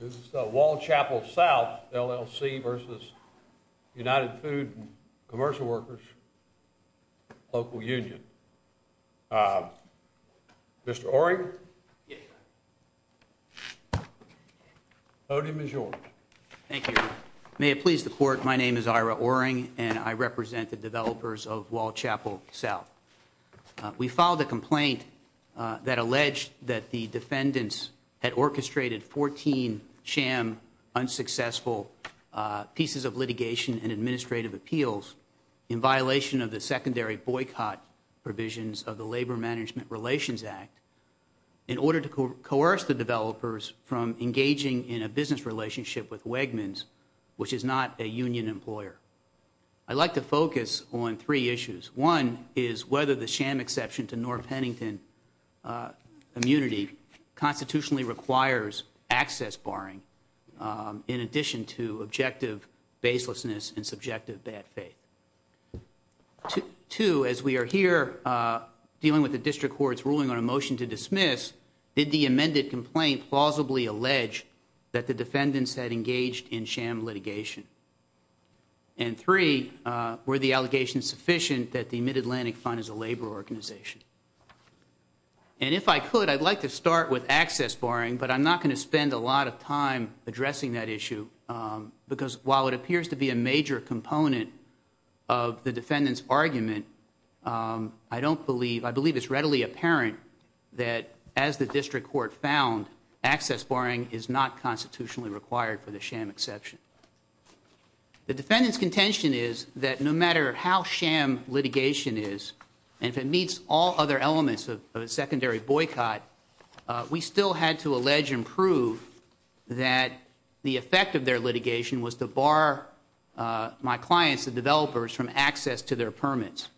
This is Wall Chapel South, LLC v. United Food and Commercial Workers, Local Union. Mr. Oring, the podium is yours. Thank you. May it please the Court, my name is Ira Oring and I represent the developers of Wall Chapel South. We filed a complaint that alleged that the sham unsuccessful pieces of litigation and administrative appeals in violation of the secondary boycott provisions of the Labor Management Relations Act in order to coerce the developers from engaging in a business relationship with Wegmans, which is not a union employer. I'd like to focus on three issues. One is whether the sham exception to barring in addition to objective baselessness and subjective bad faith. Two, as we are here dealing with the district court's ruling on a motion to dismiss, did the amended complaint plausibly allege that the defendants had engaged in sham litigation? And three, were the allegations sufficient that the Mid-Atlantic Fund is a labor organization? And if I could, I'd like to start with access barring, but I'm not going to spend a lot of time addressing that issue because while it appears to be a major component of the defendant's argument, I don't believe, I believe it's readily apparent that as the district court found, access barring is not constitutionally required for the sham exception. The defendant's contention is that no matter how sham litigation is, and if it meets all other elements of a secondary boycott, we still had to allege and prove that the effect of their litigation was to bar my clients, the developers, from access to their permits.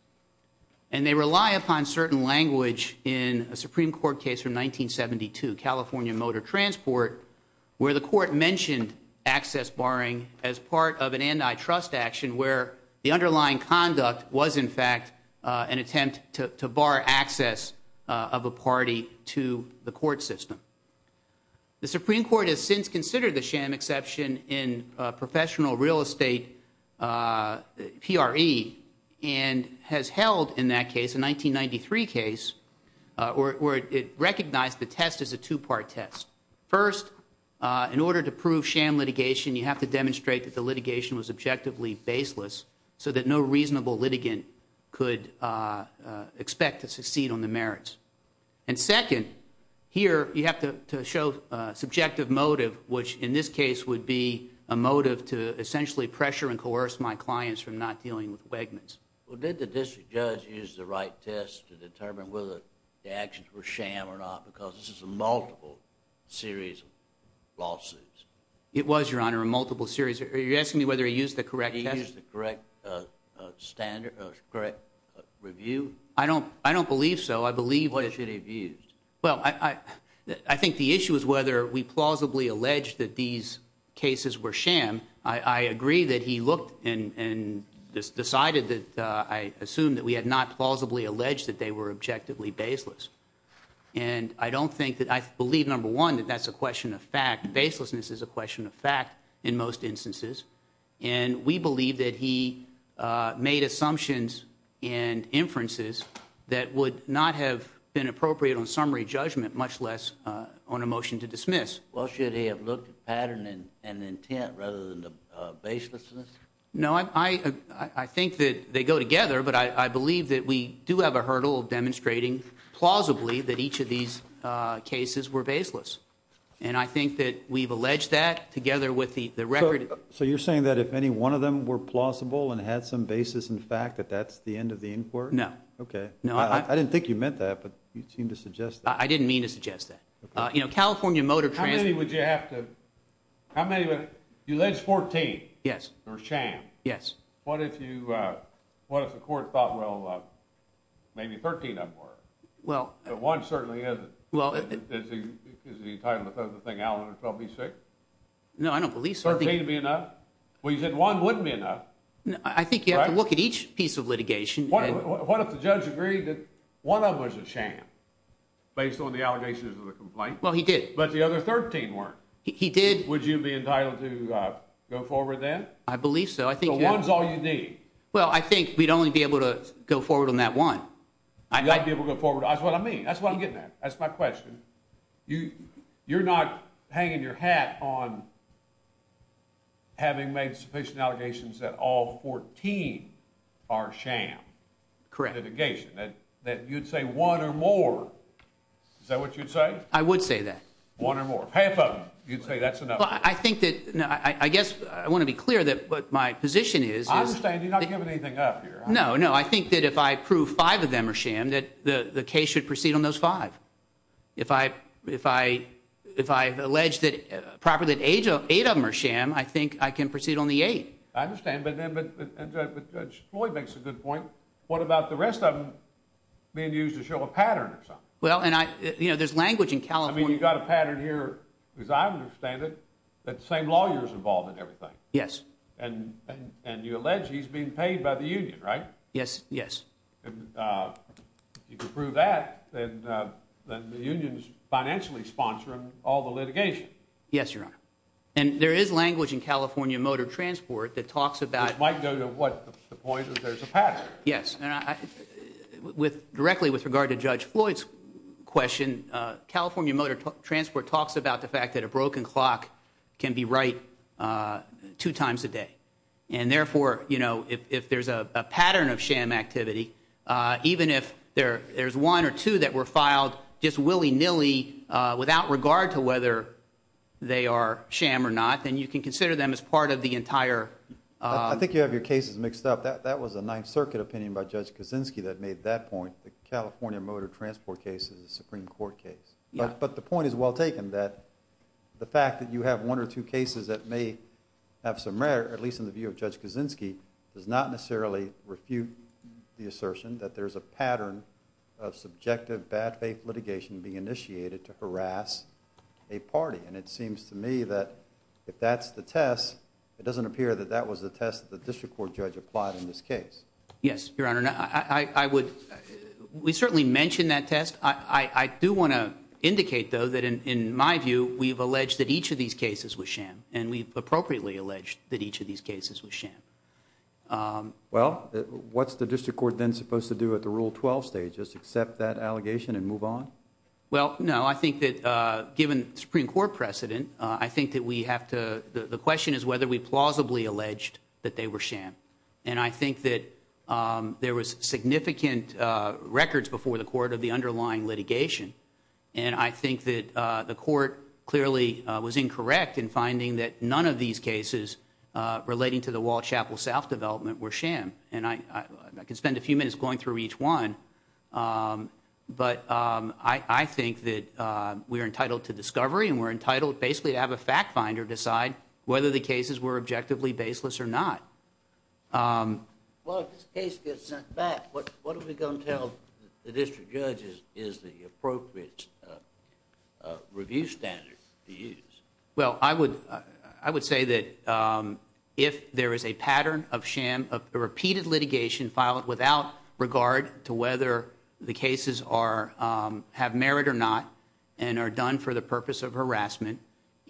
And they rely upon certain language in a Supreme Court case from 1972, California Motor Transport, where the court mentioned access barring as part of an antitrust action where the underlying conduct was in fact an attempt to bar access of a party to the court system. The Supreme Court has since considered the sham exception in professional real estate, PRE, and has held in that case, a 1993 case, where it recognized the test as a two-part test. First, in order to prove sham litigation, you have to demonstrate that the litigation was objectively baseless so that no reasonable litigant could expect to succeed on the merits. And second, here you have to show a subjective motive, which in this case would be a motive to essentially pressure and coerce my clients from not dealing with Wegmans. Well, did the district judge use the right test to determine whether the actions were sham or not? Because this is a multiple series of lawsuits. It was, Your Honor, a multiple series. Are you asking me whether he used the correct test? Did he use the correct review? I don't believe so. I think the issue is whether we plausibly allege that these decided that I assume that we had not plausibly alleged that they were objectively baseless. And I don't think that I believe, number one, that that's a question of fact. Baselessness is a question of fact in most instances. And we believe that he made assumptions and inferences that would not have been appropriate on summary judgment, much less on a motion to dismiss. Well, should he have looked at pattern and intent rather than the baselessness? No, I think that they go together, but I believe that we do have a hurdle of demonstrating plausibly that each of these cases were baseless. And I think that we've alleged that together with the record. So you're saying that if any one of them were plausible and had some basis in fact, that that's the end of the inquiry? No. Okay. No, I didn't think you meant that, but you seem to suggest that. I didn't mean to suggest that. You know, what if the court thought, well, maybe 13 of them were. But one certainly isn't. Is he entitled to throw the thing out on 12B6? No, I don't believe so. 13 would be enough? Well, you said one wouldn't be enough. I think you have to look at each piece of litigation. What if the judge agreed that one of them was a sham based on the allegations of the complaint? Well, he did. But the other 13 weren't. He did. Would you be entitled to go forward then? I believe so. The one's all you need. Well, I think we'd only be able to go forward on that one. You'd be able to go forward. That's what I mean. That's what I'm getting at. That's my question. You're not hanging your hat on having made sufficient allegations that all 14 are sham. Correct. Litigation. That you'd say one or more. Is that what you'd say? I would say that. One or more. Half of them, you'd say that's I think that I guess I want to be clear that what my position is. I understand you're not giving anything up here. No, no. I think that if I prove five of them are sham that the case should proceed on those five. If I if I if I allege that properly eight of them are sham, I think I can proceed on the eight. I understand. But Judge Floyd makes a good point. What about the rest of them being used to show a pattern? Well, and I you know, there's language in California. You've got a that same lawyers involved in everything. Yes. And and you allege he's being paid by the union, right? Yes. Yes. And you can prove that then the unions financially sponsoring all the litigation. Yes, your honor. And there is language in California motor transport that talks about might go to what the point that there's a pattern. Yes. And I with directly with regard to Judge Floyd's question, California Motor Transport talks about the fact that a broken clock can be right two times a day. And therefore, you know, if there's a pattern of sham activity, even if there there's one or two that were filed just willy nilly without regard to whether they are sham or not, then you can consider them as part of the entire. I think you have your cases mixed up. That was a Ninth Circuit opinion by Judge Kaczynski that made that point. The California Motor Transport case is a Supreme Court case. But the point is well taken that the fact that you have one or two cases that may have some rare, at least in the view of Judge Kaczynski, does not necessarily refute the assertion that there's a pattern of subjective bad faith litigation being initiated to harass a party. And it seems to me that if that's the test, it doesn't appear that that was the test that the district court judge applied in this case. Yes, your honor. And I would we certainly mention that test. I do want to indicate, though, that in my view, we've alleged that each of these cases was sham and we've appropriately alleged that each of these cases was sham. Well, what's the district court then supposed to do at the Rule 12 stage is accept that allegation and move on? Well, no, I think that given Supreme Court precedent, I think that we have to the question is whether we plausibly alleged that they were sham. And I think that there was significant records before the court of the underlying litigation. And I think that the court clearly was incorrect in finding that none of these cases relating to the Walsh Chapel South development were sham. And I can spend a few minutes going through each one. But I think that we are entitled to discovery and we're entitled basically to have a fact finder decide whether the cases were objectively baseless or not. Um, well, this case gets sent back. What what are we going to tell the district judges is the appropriate review standards to use? Well, I would I would say that if there is a pattern of sham of repeated litigation filed without regard to whether the cases are have merit or not and are done for the purpose of harassment.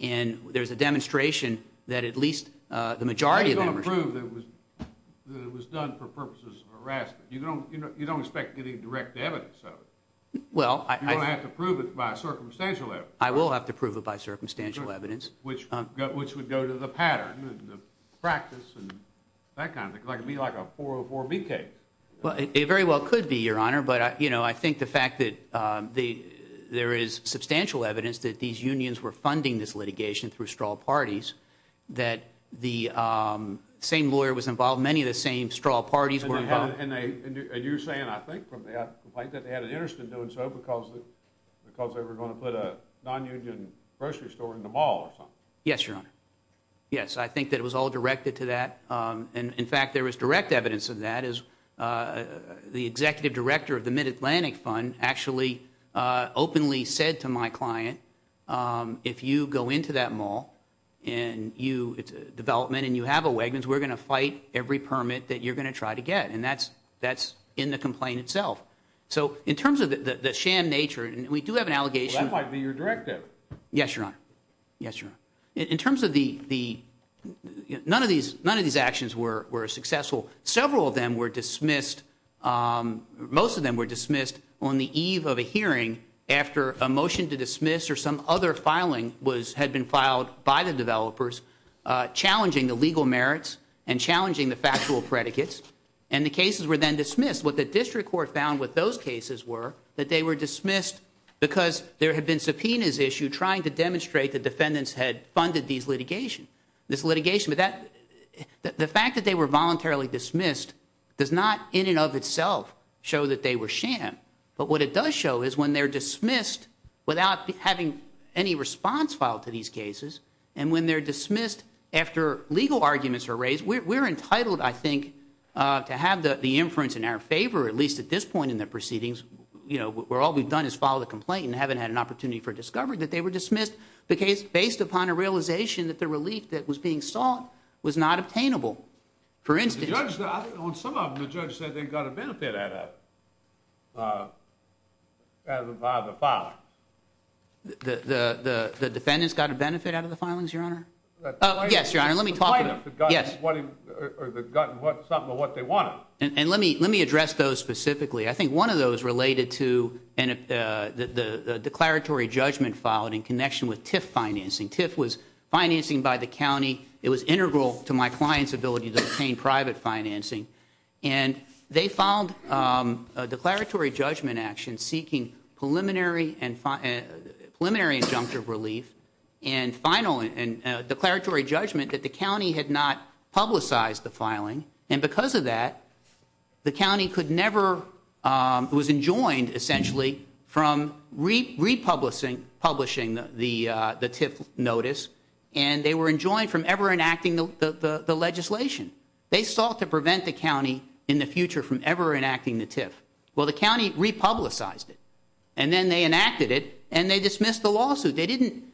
And there's a demonstration that at least the majority of them were proved that it was done for purposes of harassment. You don't you don't expect any direct evidence of it. Well, I don't have to prove it by circumstantial evidence. I will have to prove it by circumstantial evidence, which which would go to the pattern, the practice and that kind of thing. Like it'd be like a 404B case. Well, it very well could be, Your Honor. But, you know, I think the fact that the there is substantial evidence that these unions were the same lawyer was involved. Many of the same straw parties were and you're saying, I think, from the complaint that they had an interest in doing so because because they were going to put a nonunion grocery store in the mall or something. Yes, Your Honor. Yes, I think that it was all directed to that. And in fact, there is direct evidence of that is the executive director of the Mid-Atlantic Fund actually openly said to my client, if you go into that mall and you development and you have a wagons, we're going to fight every permit that you're going to try to get. And that's that's in the complaint itself. So in terms of the sham nature, we do have an allegation. That might be your directive. Yes, Your Honor. Yes, Your Honor. In terms of the the none of these none of these actions were successful. Several of them were dismissed. Most of them were dismissed on the eve of a hearing after a motion to dismiss or some other filing was had been filed by the developers challenging the legal merits and challenging the factual predicates. And the cases were then dismissed. What the district court found with those cases were that they were dismissed because there had been subpoenas issue trying to demonstrate the defendants had funded these litigation, this litigation. But that the fact that they were voluntarily dismissed does not in and of itself show that they were sham. But what it does show is when they're dismissed without having any response filed to these cases. And when they're dismissed after legal arguments are raised, we're entitled, I think, to have the inference in our favor, at least at this point in the proceedings. You know, we're all we've done is follow the complaint and haven't had an opportunity for discovered that they were dismissed because based upon a realization that the relief that was being sought was not obtainable. For instance, on some of them, the judge said they got a benefit out of out of the file. The defendants got a benefit out of the filings, your honor. Yes, your honor. Let me talk about what they want. And let me let me address those specifically. I think one of those related to the declaratory judgment filed in connection with TIF financing. TIF was financing by the county. It was integral to my client's ability to obtain private financing. And they found a declaratory judgment action seeking preliminary and preliminary injunctive relief and final and declaratory judgment that the county had not publicized the filing. And because of that, the county could never was enjoined essentially from republishing the TIF notice. And they were enjoined from ever enacting the legislation. They sought to prevent the county in the future from ever enacting the TIF. Well, the county republicized it and then they enacted it and they dismissed the lawsuit. They didn't.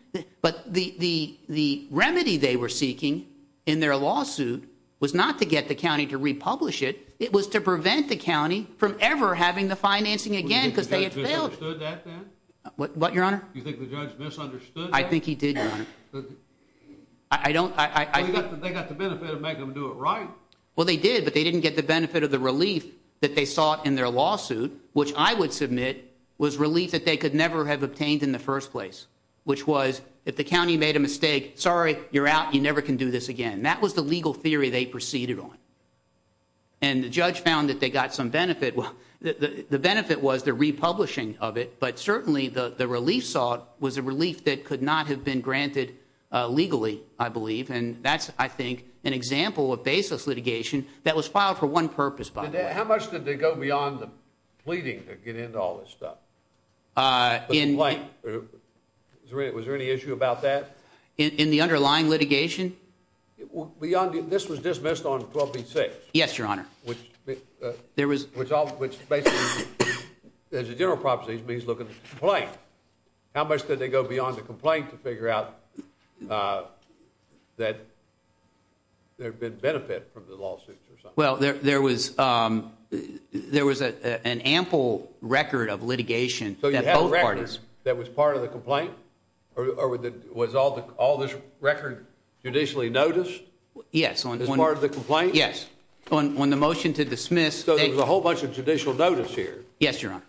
But the the the remedy they were seeking in their lawsuit was not to get the county to republish it. It was to prevent the county from ever having the financing again because they had failed. What, your honor? You think the judge misunderstood? I think he did, your honor. I don't. They got the benefit of making them do it right. Well, they did, but they didn't get the benefit of the relief that they sought in their lawsuit, which I would submit was relief that they could never have obtained in the first place, which was if the county made a mistake, sorry, you're out. You never can do this again. That was the legal theory they proceeded on. And the judge found that they got some benefit. Well, the benefit was the republishing of it, but certainly the the relief sought was a relief that could not have been granted legally, I believe. And that's, I think, an example of baseless litigation that was filed for one purpose, by the way. How much did they go beyond the pleading to get into all this stuff? Was there any issue about that? In the underlying litigation? Well, beyond this was dismissed on 12-B-6. Yes, your honor. Which basically, as a general prophecy, means look at the complaint. How much did they go beyond the complaint to figure out that there had been benefit from the lawsuits or something? Well, there was an ample record of litigation. So you had a record that was part of the complaint? Or was all this record judicially noticed? Yes. As part of the complaint? Yes. On the motion to dismiss. So there's a whole bunch of judicial notice here? Yes, your honor.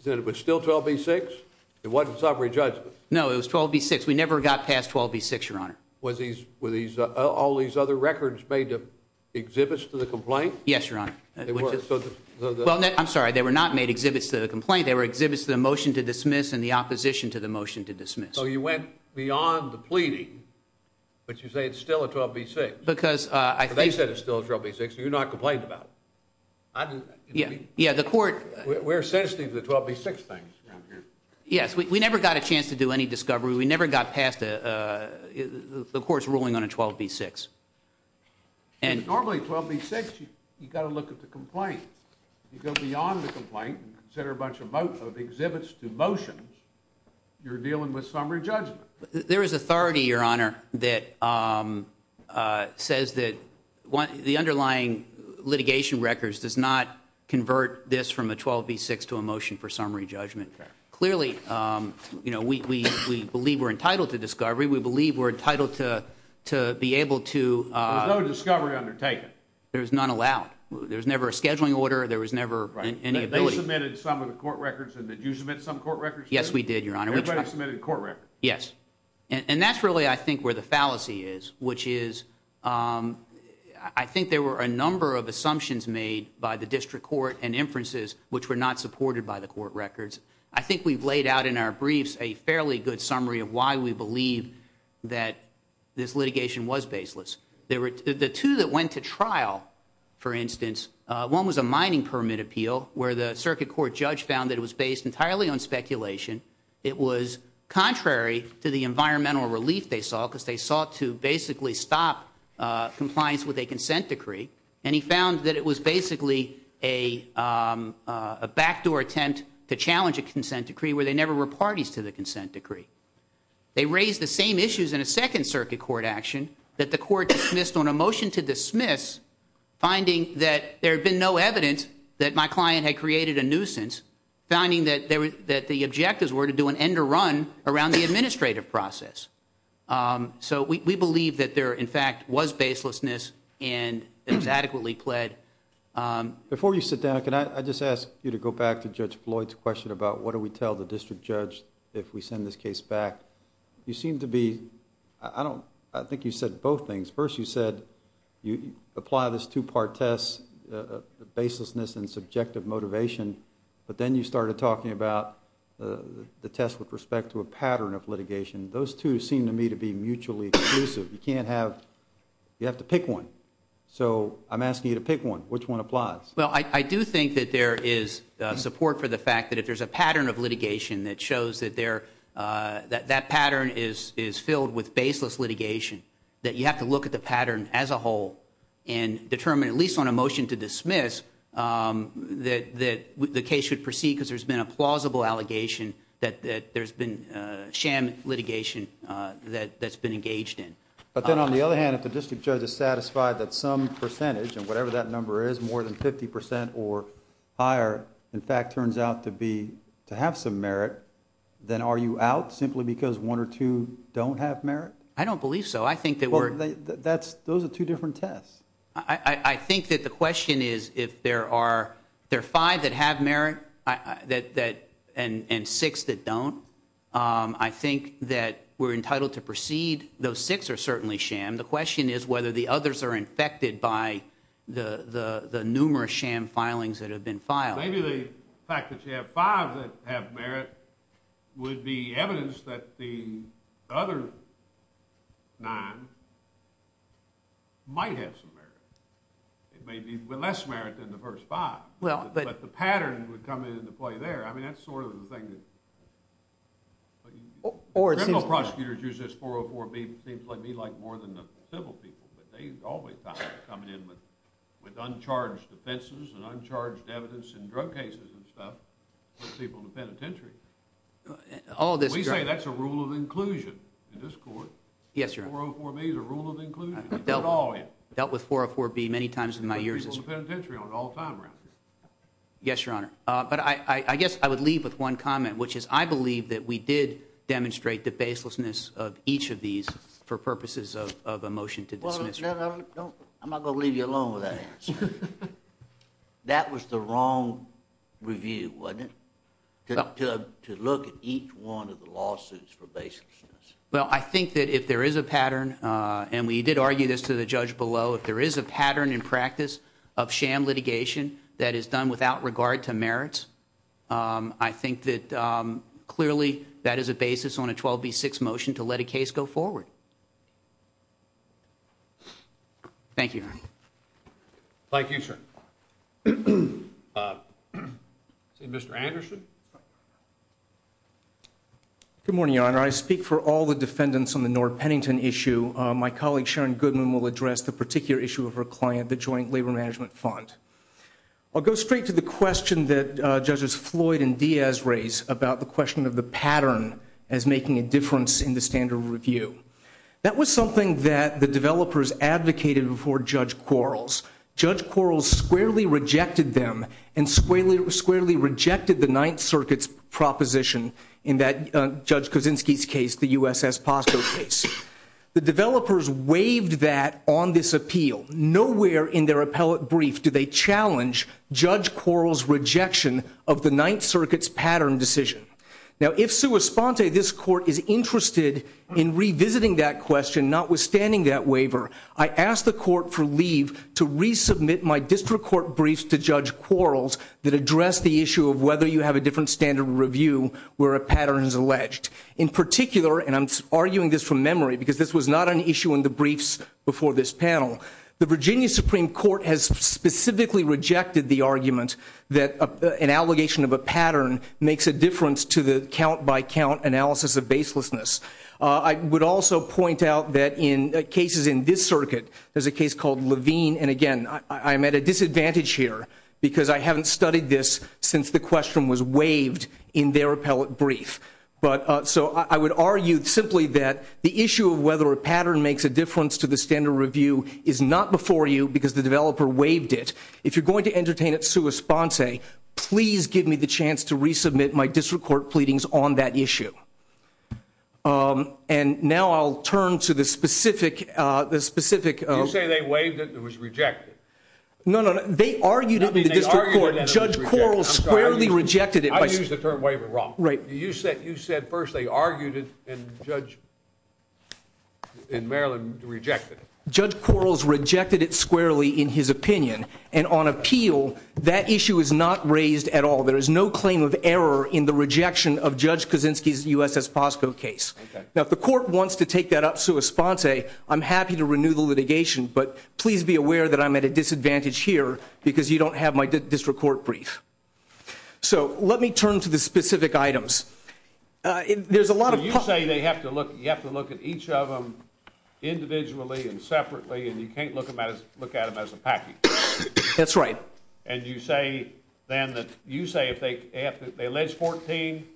So it was still 12-B-6? It wasn't sovereign judgment? No, it was 12-B-6. We never got past 12-B-6, your honor. Were all these other records made to exhibits to the complaint? Yes, your honor. I'm sorry, they were not made exhibits to the complaint. They were exhibits to the motion to dismiss. So you went beyond the pleading, but you say it's still a 12-B-6? They said it's still a 12-B-6, so you're not complaining about it? We're sensitive to the 12-B-6 things around here. Yes, we never got a chance to do any discovery. We never got past the court's ruling on a 12-B-6. Normally, 12-B-6, you've got to look at the complaint. If you go beyond the complaint and consider a bunch of exhibits to motions, you're dealing with summary judgment. There is authority, your honor, that says that the underlying litigation records does not convert this from a 12-B-6 to a motion for summary judgment. Clearly, we believe we're entitled to discovery. We believe we're entitled to be able to... There was no discovery undertaken? There was none allowed. There was never a scheduling order. There was never any ability. They submitted some of the court records, and did you submit some court records? Yes, we did, your honor. Everybody submitted a court record? Yes, and that's really, I think, where the fallacy is, which is I think there were a number of assumptions made by the district court and inferences which were not supported by the court records. I think we've laid out in our briefs a fairly good summary of why we believe that this litigation was baseless. The two that went to trial, for instance, one was a mining permit appeal where the circuit court judge found that it was based entirely on speculation. It was contrary to the environmental relief they saw because they sought to basically stop compliance with a consent decree, and he found that it was basically a backdoor attempt to challenge a consent decree where they never were parties to the consent decree. They raised the same issues in a second circuit court action that the court dismissed on a motion to dismiss, finding that there had been no evidence that my client had created a nuisance, finding that the objectives were to do an end to run around the administrative process. So we believe that there, in fact, was baselessness, and it was adequately pled. Before you sit down, can I just ask you to go back to Judge Floyd's question about what do tell the district judge if we send this case back? You seem to be, I think you said both things. First, you said you apply this two-part test, baselessness and subjective motivation, but then you started talking about the test with respect to a pattern of litigation. Those two seem to me to be mutually exclusive. You can't have, you have to pick one. So I'm asking you to pick one. Which one applies? Well, I do think that there is support for the fact that if there's a pattern of litigation that shows that that pattern is filled with baseless litigation, that you have to look at the pattern as a whole and determine, at least on a motion to dismiss, that the case should proceed because there's been a plausible allegation that there's been sham litigation that's been engaged in. But then on the other hand, if the district judge is satisfied that some percentage, and whatever that number is, more than 50 percent or higher, in fact turns out to be, to have some merit, then are you out simply because one or two don't have merit? I don't believe so. I think that we're... Those are two different tests. I think that the question is if there are five that have merit and six that don't, I think that we're entitled to proceed. Those six are certainly sham. The question is whether the others are infected by the numerous sham filings that have been filed. Maybe the fact that you have five that have merit would be evidence that the other nine might have some merit. It may be less merit than the first five, but the pattern would come into play there. I mean, that's sort of the thing that... Criminal prosecutors use this 404B, it seems like more than the civil people, but they always thought it was coming in with uncharged defenses and uncharged evidence in drug cases and stuff for people in the penitentiary. We say that's a rule of inclusion in this court. Yes, Your Honor. 404B is a rule of inclusion. They put it all in. Dealt with 404B many times in my years as... For people in the penitentiary on all time rounds. Yes, Your Honor. But I guess I would leave with one comment, which is I believe that we did the baselessness of each of these for purposes of a motion to dismiss. I'm not going to leave you alone with that answer. That was the wrong review, wasn't it? To look at each one of the lawsuits for baselessness. Well, I think that if there is a pattern, and we did argue this to the judge below, if there is a pattern in practice of sham litigation that is done without regard to merits, I think that clearly that is a basis on a 12B6 motion to let a case go forward. Thank you, Your Honor. Thank you, sir. Mr. Anderson? Good morning, Your Honor. I speak for all the defendants on the Nord-Pennington issue. My colleague Sharon Goodman will address the particular issue of her client, the Joint Labor Management Fund. I'll go straight to the question that Judges Floyd and Diaz raised about the question of the pattern as making a difference in the standard review. That was something that the developers advocated before Judge Quarles. Judge Quarles squarely rejected them and squarely rejected the Ninth Circuit's proposition in Judge Kuczynski's case, the USS Appeal. Nowhere in their appellate brief do they challenge Judge Quarles' rejection of the Ninth Circuit's pattern decision. Now, if, sua sponte, this Court is interested in revisiting that question, notwithstanding that waiver, I ask the Court for leave to resubmit my district court briefs to Judge Quarles that address the issue of whether you have a different standard review where a pattern is alleged. In particular, and I'm arguing this from memory because this was not an issue in the briefs before this panel, the Virginia Supreme Court has specifically rejected the argument that an allegation of a pattern makes a difference to the count-by-count analysis of baselessness. I would also point out that in cases in this circuit, there's a case called Levine, and again, I'm at a disadvantage here because I haven't studied this since the question was waived in their appellate brief. So I would argue simply that the issue of whether a pattern makes a difference to the standard review is not before you because the developer waived it. If you're going to entertain it sua sponte, please give me the chance to resubmit my district court pleadings on that issue. And now I'll turn to the specific... You say they waived it and it was wrong. You said first they argued it and Judge Quarles rejected it. Judge Quarles rejected it squarely in his opinion, and on appeal, that issue is not raised at all. There is no claim of error in the rejection of Judge Kaczynski's U.S.S. Posco case. Now if the court wants to take that up sua sponte, I'm happy to renew the litigation, but please be aware that I'm at a disadvantage here because you don't have my district court brief. So let me turn to the specific items. There's a lot of... So you say you have to look at each of them individually and separately and you can't look at them as a package? That's right. And you say then that you say if they allege 14,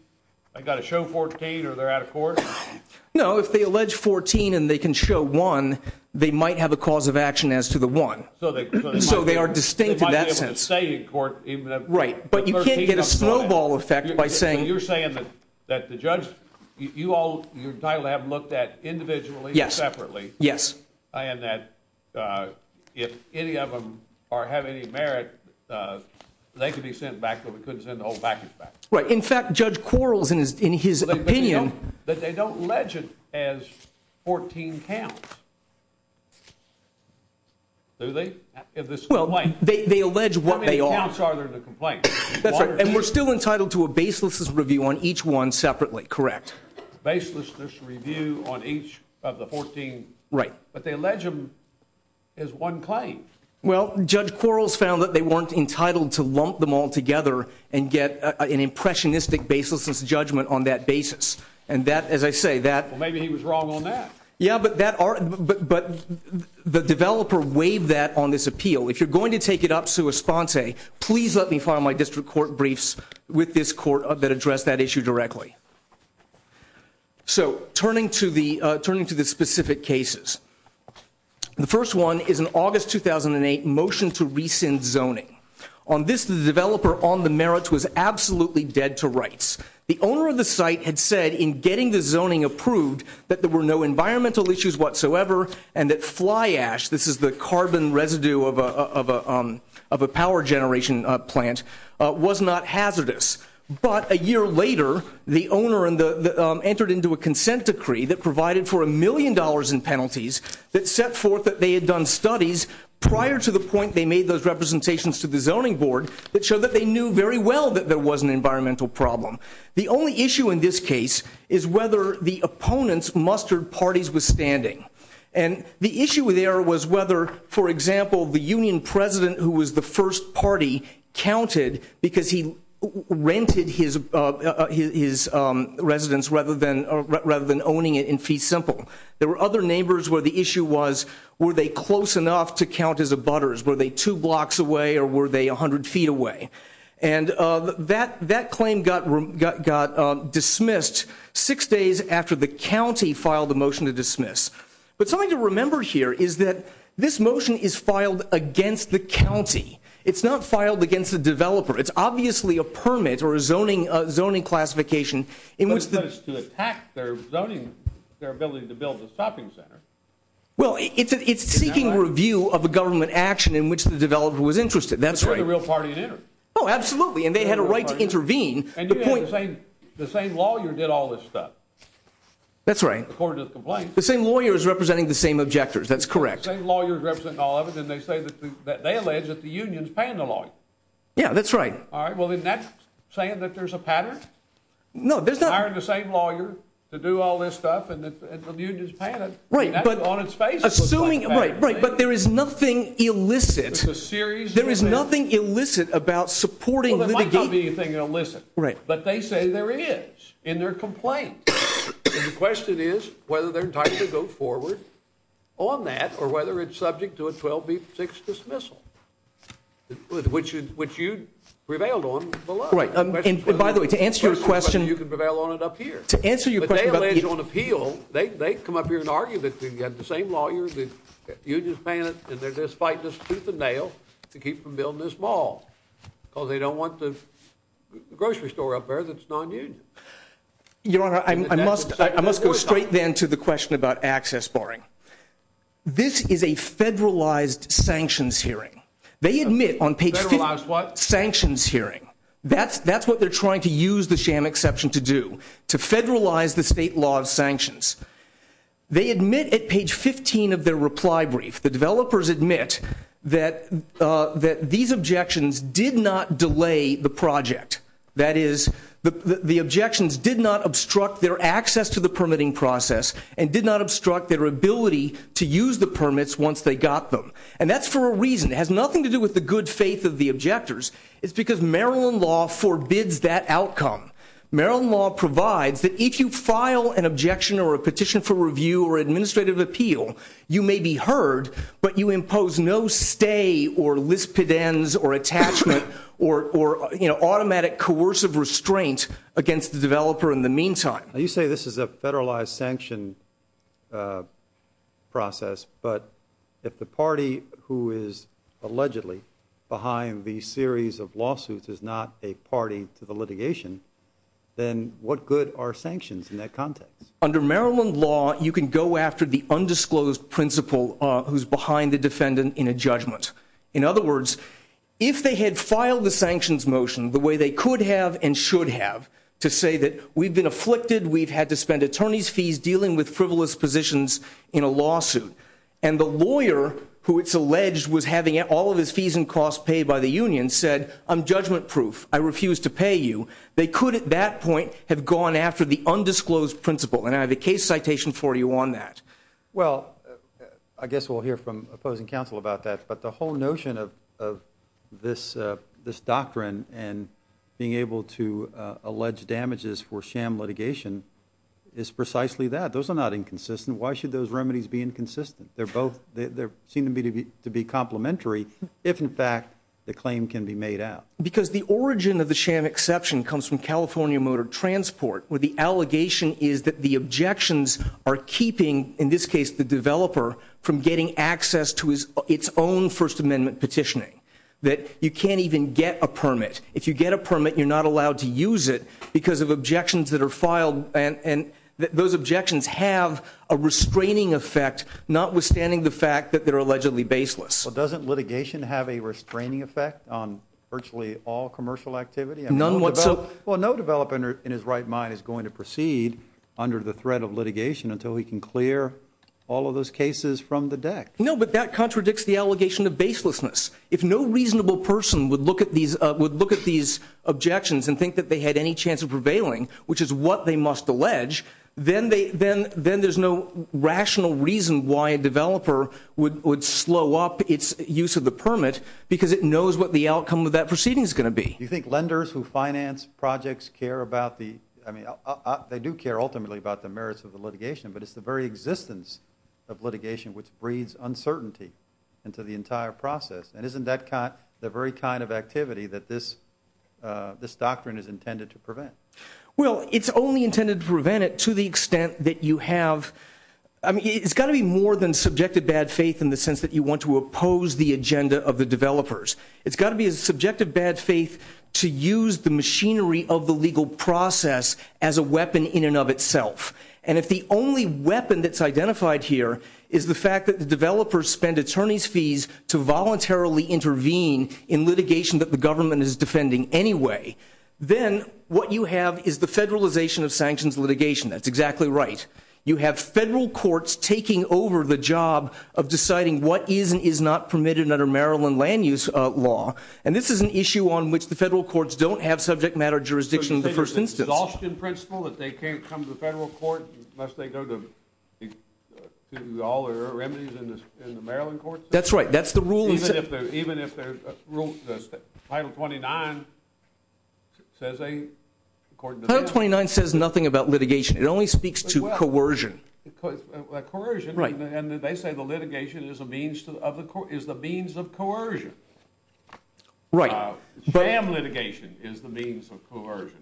they've got to show 14 or they're out of court? No, if they allege 14 and they can show one, they might have a cause of action as to the one. So they are distinct in that sense. Right, but you can't get a snowball effect by saying... So you're saying that the judge, you all, you're entitled to have them looked at individually and separately. Yes. And that if any of them have any merit, they could be sent back, but we couldn't send the whole package back. Right. In fact, Judge Quarles, in his opinion... But they don't allege it as 14 counts. Do they? Well, they allege what they are... How many counts are there to complain? That's right. And we're still entitled to a baseless review on each one separately, correct? Baseless review on each of the 14... Right. But they allege them as one claim. Well, Judge Quarles found that they weren't entitled to lump them all together and get an impressionistic baselessness judgment on that basis. And that, as I say, that... Well, maybe he was wrong on that. Yeah, but the developer waived that on this appeal. If you're going to take it up sua sponte, please let me file my district court briefs with this court that addressed that issue directly. So turning to the specific cases, the first one is an August 2008 motion to rescind zoning. On this, the developer, on the merits, was absolutely dead to rights. The owner of the site had said in getting the zoning approved that there were no environmental issues whatsoever and that fly ash, this is the carbon residue of a power generation plant, was not hazardous. But a year later, the owner entered into a consent decree that provided for a million dollars in penalties that set forth that they had done studies prior to the point they made those representations to the zoning board that showed that they knew very well that there was an environmental problem. The only issue in this case is whether the opponents mustered parties withstanding. And the issue there was whether, for example, the union president who was the first party counted because he rented his residence rather than owning it in fee simple. There were other neighbors where the issue was, were they close enough to count as abutters? Were they two blocks away or were they 100 feet away? And that claim got dismissed six days after the county filed the motion to dismiss. But something to remember here is that this motion is filed against the county. It's not to attack their zoning, their ability to build a shopping center. Well, it's seeking review of a government action in which the developer was interested. That's right. They're the real party in it. Oh, absolutely. And they had a right to intervene. And the same lawyer did all this stuff. That's right. According to the complaint. The same lawyer is representing the same objectors. That's correct. The same lawyer is representing all of it. And they say that they allege that the union's paying the lawyer. Yeah, that's right. All right. Well, isn't that saying that there's a pattern? No, there's not. Hiring the same lawyer to do all this stuff and the union's paying it. Right. That's on its face. Assuming, right, right. But there is nothing illicit. It's a series. There is nothing illicit about supporting litigation. Well, there might not be anything illicit. Right. But they say there is in their complaint. And the question is whether they're entitled to go forward on that or whether it's subject to a 12 v 6 dismissal, which you prevailed on below. Right. And by the way, to answer your question, you can prevail on it up here. To answer your question. They allege on appeal. They come up here and argue that they've got the same lawyer. The union's paying it. And they're just fighting this tooth and nail to keep from building this mall because they don't want the grocery store up there that's nonunion. Your Honor, I must I must go straight then to the question about access barring. This is a federalized sanctions hearing. They admit on page. Federalized what? Sanctions hearing. That's that's what they're trying to use the sham exception to do. To federalize the state law of sanctions. They admit at page 15 of their reply brief. The developers admit that that these objections did not delay the project. That is, the objections did not obstruct their access to the permitting process and did not obstruct their ability to use the permits once they got them. And that's for a reason. It has nothing to do with the good faith of the objectors. It's because Maryland law forbids that outcome. Maryland law provides that if you file an objection or a petition for review or administrative appeal, you may be heard, but you impose no stay or lispid ends or attachment or automatic coercive restraint against the developer in the meantime. You say this is a federalized sanction process, but if the party who is allegedly behind the series of lawsuits is not a party to the litigation, then what good are sanctions in that context? Under Maryland law, you can go after the undisclosed principle who's behind the defendant in a judgment. In other words, if they had filed the sanctions motion the way they could have and should have to say that we've been afflicted, we've had to spend attorney's fees dealing with frivolous positions in a lawsuit, and the lawyer who it's alleged was having all of his fees and costs paid by the union said, I'm judgment-proof, I refuse to pay you, they could at that point have gone after the undisclosed principle. And I have a case citation for you on that. Well, I guess we'll hear from opposing counsel about that. But the whole notion of this doctrine and being able to allege damages for sham litigation is precisely that. Those are not inconsistent. Why should those remedies be inconsistent? They seem to be to be complementary if, in fact, the claim can be made out. Because the origin of the sham exception comes from California Motor Transport, where the allegation is that the objections are keeping, in this case, the developer from getting access to its own First Amendment petitioning, that you can't even get a permit. If you get a permit, you're not allowed to use it because of objections that are filed. And those objections have a restraining effect, notwithstanding the fact that they're allegedly baseless. Well, doesn't litigation have a restraining effect on virtually all commercial activity? None whatsoever. Well, no developer in his right mind is going to proceed under the threat of litigation until he can clear all of those cases from the deck. No, but that contradicts the allegation of baselessness. If no reasonable person would look at these objections and think that they had any chance of prevailing, which is what they must allege, then there's no rational reason why a developer would slow up its use of the permit because it knows what the outcome of that proceeding is going to be. You think lenders who finance projects care about the... But it's the very existence of litigation which breeds uncertainty into the entire process. And isn't that the very kind of activity that this doctrine is intended to prevent? Well, it's only intended to prevent it to the extent that you have... I mean, it's got to be more than subjective bad faith in the sense that you want to oppose the agenda of the developers. It's got to be a subjective bad faith to use the machinery of the legal process as a weapon in and of itself. And if the only weapon that's identified here is the fact that the developers spend attorney's fees to voluntarily intervene in litigation that the government is defending anyway, then what you have is the federalization of sanctions litigation. That's exactly right. You have federal courts taking over the job of deciding what is and is not permitted under Maryland land use law. And this is an issue on which the federal courts don't have subject matter jurisdiction in the first instance. The exhaustion principle that they can't come to the federal court unless they go to all the remedies in the Maryland courts? That's right. That's the rule. Even if there's a rule... Title 29 says they, according to them... Title 29 says nothing about litigation. It only speaks to coercion. Coercion. Right. And they say the litigation is the means of coercion. Right. Jam litigation is the means of coercion.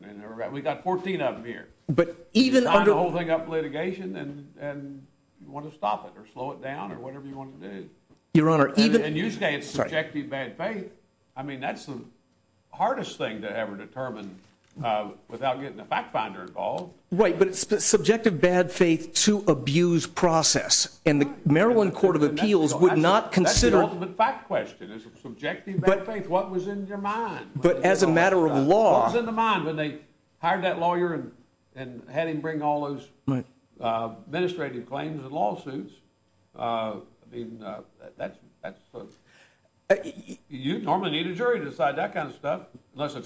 We've got 14 of them here. But even... You sign the whole thing up for litigation and you want to stop it or slow it down or whatever you want to do. Your Honor, even... And usually it's subjective bad faith. I mean, that's the hardest thing to ever determine without getting a fact finder involved. Right, but it's the subjective bad faith to abuse process. And the Maryland Court of Appeals would not consider... That's the ultimate fact question. Is it subjective bad faith? What was in your mind? But as a matter of law... What was in the mind when they hired that lawyer and had him bring all those administrative claims and lawsuits? I mean, that's... You normally need a jury to decide that kind of stuff, unless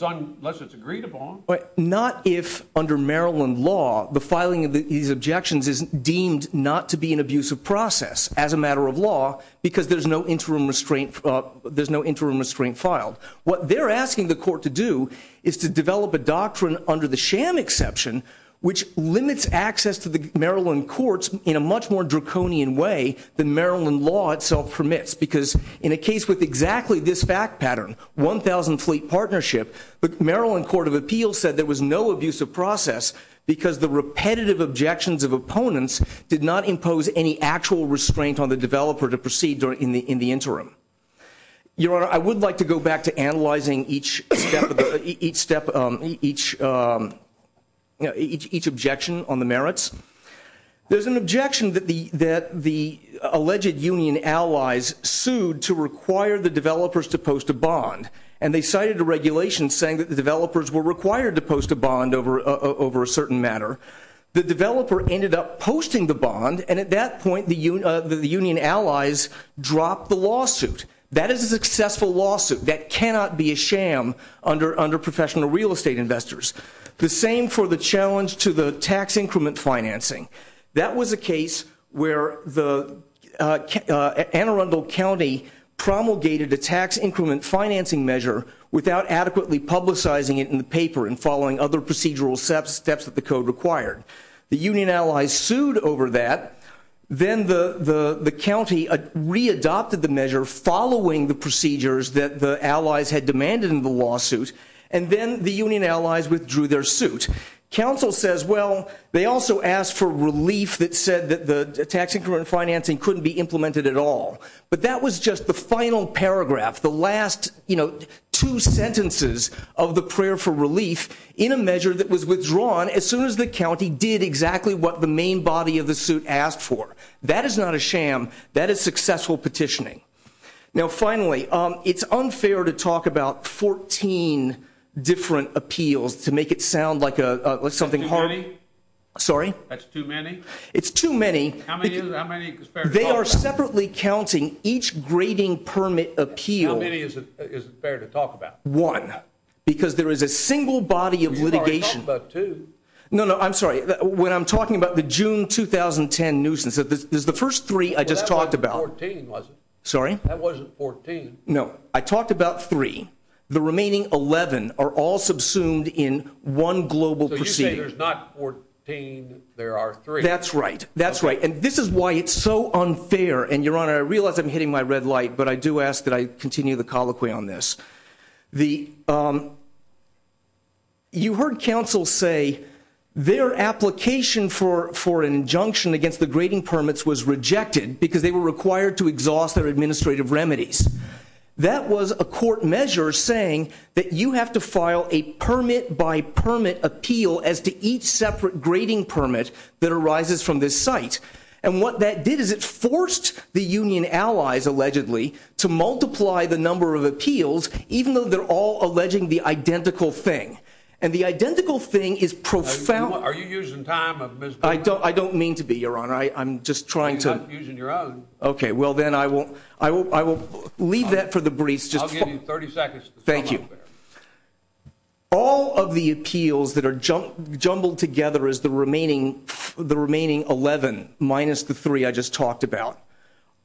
it's agreed upon. But not if under Maryland law, the filing of these objections is deemed not to be an abusive process as a matter of law because there's no interim restraint... There's no interim restraint filed. What they're asking the court to do is to develop a doctrine under the sham exception, which limits access to the Maryland courts in a much more draconian way than Maryland law itself permits. Because in a case with exactly this fact pattern, 1,000 fleet partnership, the Maryland Court of Appeals said there was no abusive process because the repetitive objections of opponents did not impose any actual restraint on the developer to proceed in the interim. Your Honor, I would like to go back to analyzing each step, each objection on the merits. There's an objection that the alleged union allies sued to require the developers to post a bond, and they cited a regulation saying that the developers were required to post a bond over a certain matter. The developer ended up posting the bond, and at that point, the union allies dropped the lawsuit. That is a successful lawsuit. That cannot be a sham under professional real estate investors. The same for the challenge to the tax increment financing. That was a case where the Anne Arundel County promulgated a tax increment financing measure without adequately publicizing it in the paper and following other procedural steps that the code required. The union allies sued over that. Then the county readopted the measure following the procedures that the allies had demanded in the lawsuit, and then the union allies withdrew their suit. Counsel says, well, they also asked for relief that said that the tax increment financing couldn't be implemented at all. But that was just the final paragraph, the last two sentences of the prayer for relief in a measure that was withdrawn as soon as the county did exactly what the main body of the suit asked for. That is not a sham. That is successful petitioning. Now, finally, it's unfair to talk about 14 different appeals to make it sound like something hard. Sorry. That's too many. It's too many. They are separately counting each grading permit appeal. How many is it fair to talk about? One, because there is a single body of litigation. No, no. I'm sorry. When I'm talking about the June 2010 nuisance, there's the first three I just talked about. Sorry. That wasn't 14. No, I talked about three. The remaining 11 are all subsumed in one global procedure. There's not 14. There are three. That's right. That's right. And this is why it's so unfair. And your honor, I realize I'm hitting my red light, but I do ask that I continue the colloquy on this. The you heard counsel say their application for an injunction against the grading permits was rejected because they were required to exhaust their administrative remedies. That was a court measure saying that you have to file a permit by permit appeal as to each separate grading permit that arises from this site. And what that did is it forced the union allies allegedly to multiply the number of appeals, even though they're all alleging the identical thing. And the identical thing is profound. Are you using time? I don't mean to be your honor. I'm just trying to using your own. Okay, well, then I will. I will. I will leave that for the briefs. Just 30 seconds. Thank you. All of the appeals that are jumbled together as the remaining 11 minus the three I just talked about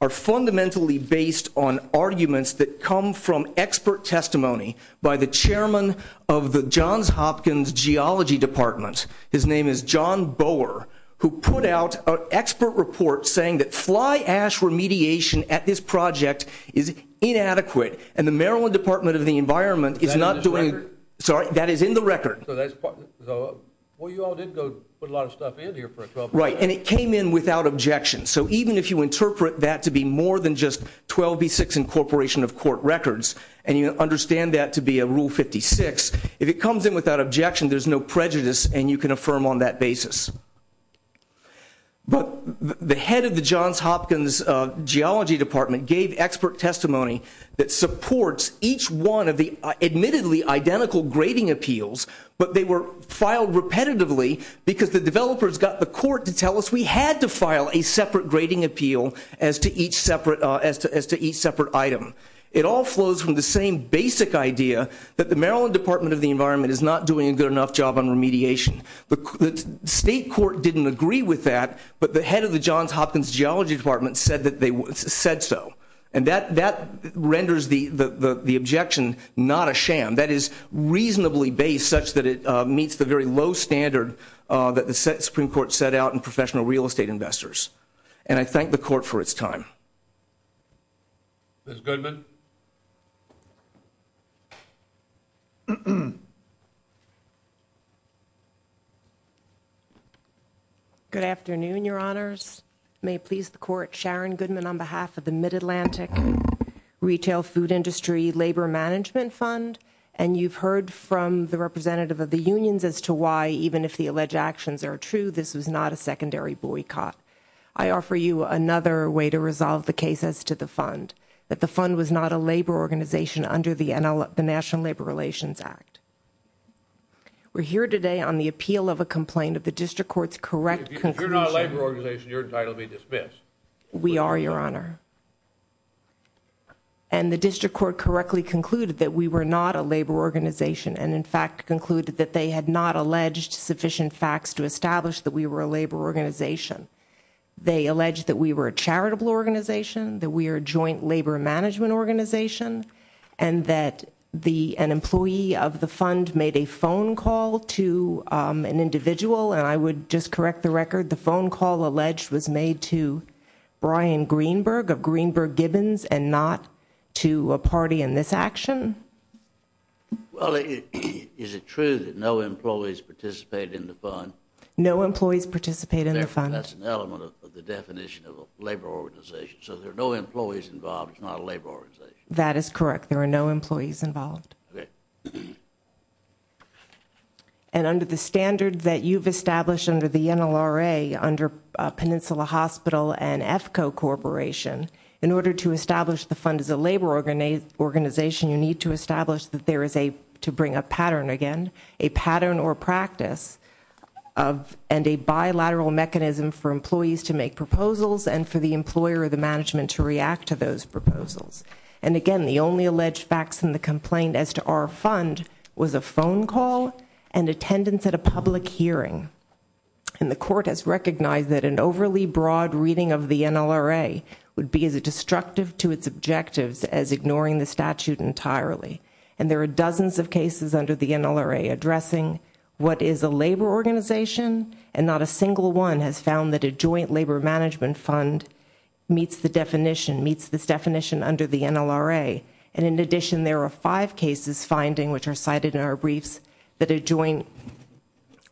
are fundamentally based on arguments that come from expert testimony by the chairman of the Johns Hopkins Geology Department. His name is John Boer, who put out an expert report saying that fly ash remediation at this project is inadequate and the Maryland Department of the Environment is not doing it. Sorry. That is in the record. Well, you all did go put a lot of stuff in here, right? And it came in without objection. So even if you interpret that to be more than just 12 v 6 incorporation of court records and you understand that to be a rule 56, if it comes in without objection, there's no prejudice and you can affirm on that basis. But the head of the Johns Hopkins Geology Department gave expert testimony that supports each one of the admittedly identical grading appeals, but they were filed repetitively because the developers got the court to tell us we had to file a separate grading appeal as to each separate item. It all flows from the same basic idea that the Maryland Department of the Environment is not doing a good enough job on remediation. The state court didn't agree with that, but the head of the Johns Hopkins Geology Department said that they said so. And that renders the objection not a sham. That is reasonably based such that it meets the very low standard that the Supreme Court set out in professional real estate investors. And I thank the court for its time. Ms. Goodman. Good afternoon, Your Honors. May it please the court. Sharon Goodman on behalf of the Mid-Atlantic Retail Food Industry Labor Management Fund. And you've heard from the representative of the unions as to why, even if the alleged actions are true, this was not a secondary boycott. I offer you another way to resolve the case as to the fund. That the fund was not a labor organization under the National Labor Relations Act. We're here today on the appeal of a complaint of the district court's correct conclusion. If you're not a labor organization, you're entitled to be dismissed. We are, Your Honor. And the district court correctly concluded that we were not a labor organization and in fact concluded that they had not alleged sufficient facts to establish that we were a labor organization. They alleged that we were a charitable organization, that we are a joint labor management organization, and that an employee of the fund made a phone call to an individual. And I would just correct the record. The phone call alleged was made to Brian Greenberg of Greenberg Gibbons and not to a party in this action. Well, is it true that no employees participate in the fund? No employees participate in the fund. That's an element of the definition of a labor organization. So there are no employees involved. It's not a labor organization. That is correct. There are no employees involved. And under the standard that you've established under the NLRA, under Peninsula Hospital and EFCO Corporation, in order to establish the fund as a labor organization, you need to establish that there is a, to bring a pattern again, a pattern or practice of, and a bilateral mechanism for employees to make proposals and for the employer or the management to react to those proposals. And again, the only alleged facts in the complaint as to our fund was a phone call and attendance at a public hearing. And the court has recognized that an overly broad reading of the NLRA would be as destructive to its objectives as ignoring the statute entirely. And there are dozens of cases under the NLRA addressing what is a labor organization and not a single one has found that a joint labor management fund meets the definition, meets this definition under the NLRA. And in addition, there are five cases finding, which are cited in our briefs, that a joint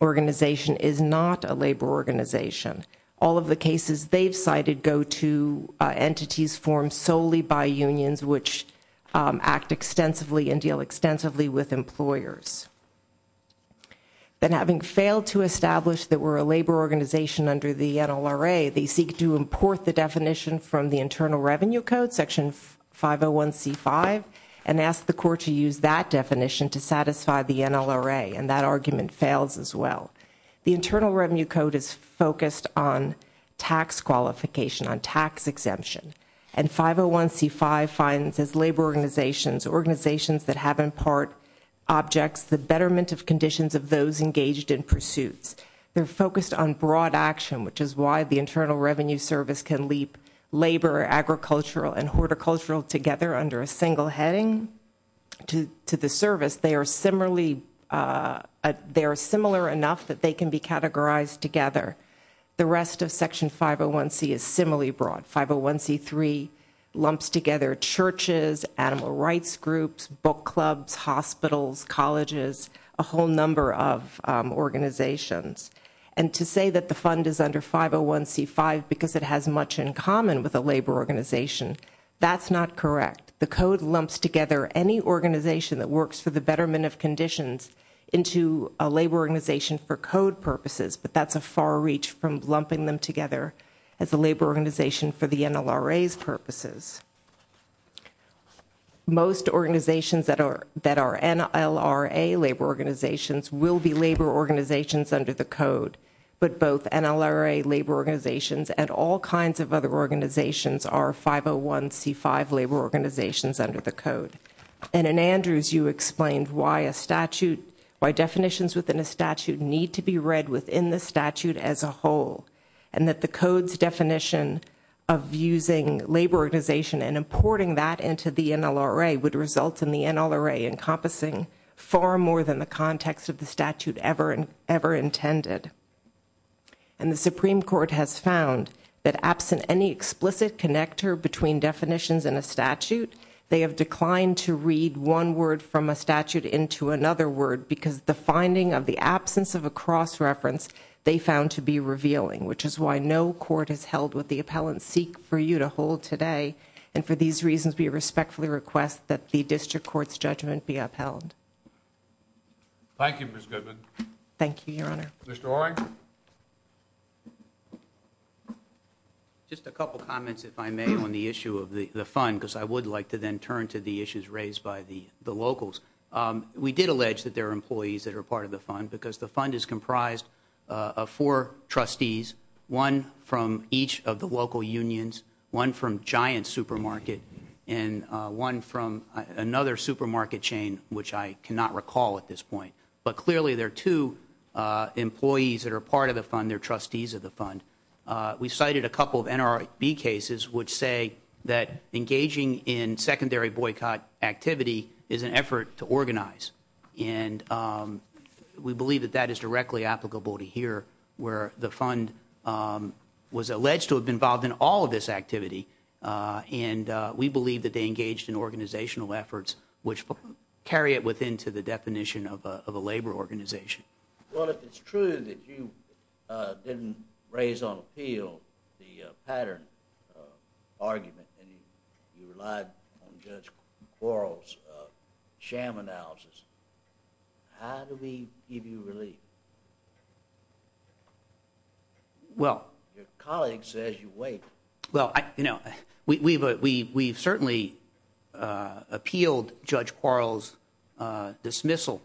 organization is not a labor organization. All of the cases they've cited go to entities formed solely by unions which act extensively and deal extensively with employers. Then having failed to establish that we're a labor organization under the NLRA, they seek to import the definition from the Internal Revenue Code, section 501c5, and ask the court to use that definition to satisfy the NLRA. And that argument fails as well. The Internal Revenue Code is focused on tax qualification, on tax exemption. And 501c5 finds as labor organizations, organizations that have in part objects that are not a labor organization, the betterment of conditions of those engaged in pursuits. They're focused on broad action, which is why the Internal Revenue Service can leap labor, agricultural, and horticultural together under a single heading to the service. They are similarly, they are similar enough that they can be categorized together. The rest of section 501c is similarly broad. 501c3 lumps together churches, animal rights groups, book clubs, hospitals, colleges, a whole number of organizations. And to say that the fund is under 501c5 because it has much in common with a labor organization, that's not correct. The code lumps together any organization that works for the betterment of conditions into a labor organization for code purposes. But that's a far reach from lumping them together as a labor organization for the NLRA's purposes. Most organizations that are NLRA labor organizations will be labor organizations under the code. But both NLRA labor organizations and all kinds of other organizations are 501c5 labor organizations under the code. And in Andrews, you explained why a statute, why definitions within a statute need to be defined within the statute as a whole and that the code's definition of using labor organization and importing that into the NLRA would result in the NLRA encompassing far more than the context of the statute ever intended. And the Supreme Court has found that absent any explicit connector between definitions and a statute, they have declined to read one word from a statute into another word because the finding of the absence of a cross-reference they found to be revealing, which is why no court has held what the appellants seek for you to hold today. And for these reasons, we respectfully request that the district court's judgment be upheld. Thank you, Ms. Goodman. Thank you, Your Honor. Mr. Orang. Just a couple comments, if I may, on the issue of the fund, because I would like to then turn to the issues raised by the locals. We did allege that there are employees that are part of the fund, because the fund is comprised of four trustees, one from each of the local unions, one from Giant Supermarket, and one from another supermarket chain, which I cannot recall at this point. But clearly, there are two employees that are part of the fund. They're trustees of the fund. We cited a couple of NLRB cases which say that engaging in secondary boycott activity is an effort to organize, and we believe that that is directly applicable to here, where the fund was alleged to have been involved in all of this activity, and we believe that they engaged in organizational efforts which carry it within to the definition of a labor organization. Well, if it's true that you didn't raise on appeal the pattern argument, and you relied on Judge Quarles' sham analysis, how do we give you relief? Well, your colleague says you wait. Well, you know, we've certainly appealed Judge Quarles' dismissal,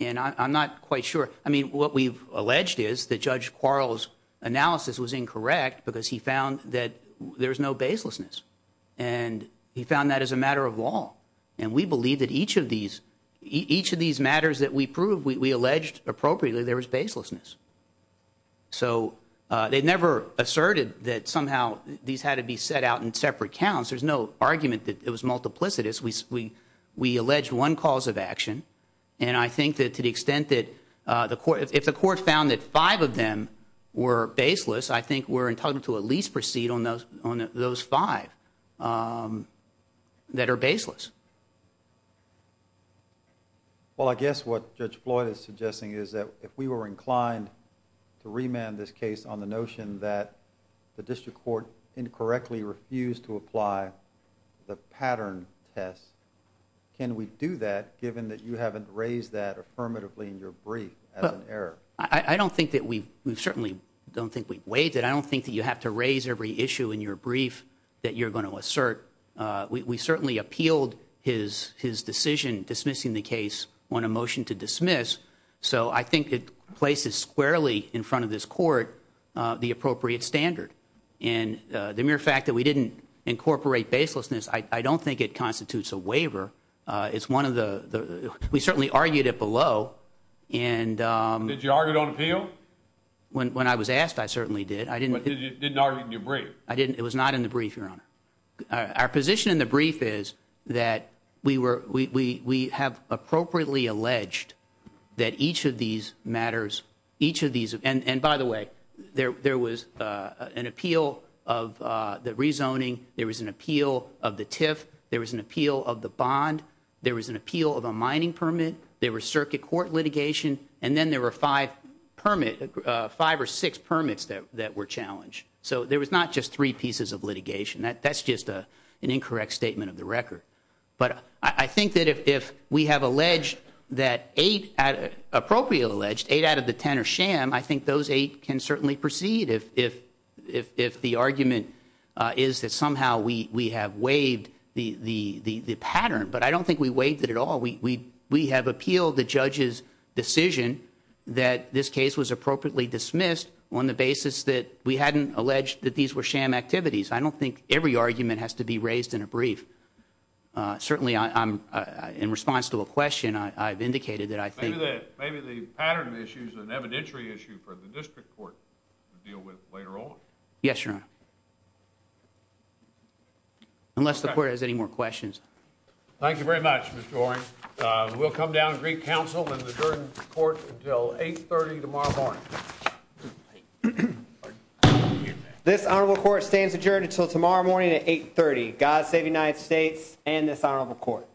and I'm not quite sure. I mean, what we've alleged is that Judge Quarles' analysis was incorrect, because he found that there was no baselessness, and he found that as a matter of law, and we believe that each of these matters that we proved, we alleged appropriately there was baselessness. So they never asserted that somehow these had to be set out in separate counts. There's no argument that it was multiplicitous. We alleged one cause of action, and I think that to the extent that if the court found that five of them were baseless, I think we're entitled to at least proceed on those five that are baseless. Well, I guess what Judge Floyd is suggesting is that if we were inclined to remand this case on the notion that the district court incorrectly refused to apply the pattern test, can we do that given that you haven't raised that affirmatively in your brief as an error? I don't think that we've, we certainly don't think we've waived it. I don't think that you have to raise every issue in your brief that you're going to assert. We certainly appealed his decision dismissing the case on a motion to dismiss, so I think it places squarely in front of this court the appropriate standard. And the mere fact that we didn't incorporate baselessness, I don't think it constitutes a waiver. It's one of the, we certainly argued it below, and Did you argue it on appeal? When I was asked, I certainly did. But you didn't argue it in your brief? I didn't. It was not in the brief, Your Honor. Our position in the brief is that we have appropriately alleged that each of these matters, each of these, and by the way, there was an appeal of the rezoning, there was an appeal of the TIF, there was an appeal of the bond, there was an appeal of a mining permit, there were five or six permits that were challenged. So there was not just three pieces of litigation. That's just an incorrect statement of the record. But I think that if we have alleged that eight, appropriately alleged, eight out of the ten are sham, I think those eight can certainly proceed if the argument is that somehow we have waived the pattern. But I don't think we waived it at all. We have appealed the judge's decision that this case was appropriately dismissed on the basis that we hadn't alleged that these were sham activities. I don't think every argument has to be raised in a brief. Certainly, in response to a question, I've indicated that I think Maybe the pattern issue is an evidentiary issue for the district court to deal with later on. Yes, Your Honor. Unless the court has any more questions. Thank you very much, Mr. Oren. We'll come down to Greek Council and adjourn the court until 8.30 tomorrow morning. This honorable court stands adjourned until tomorrow morning at 8.30. God save the United States and this honorable court.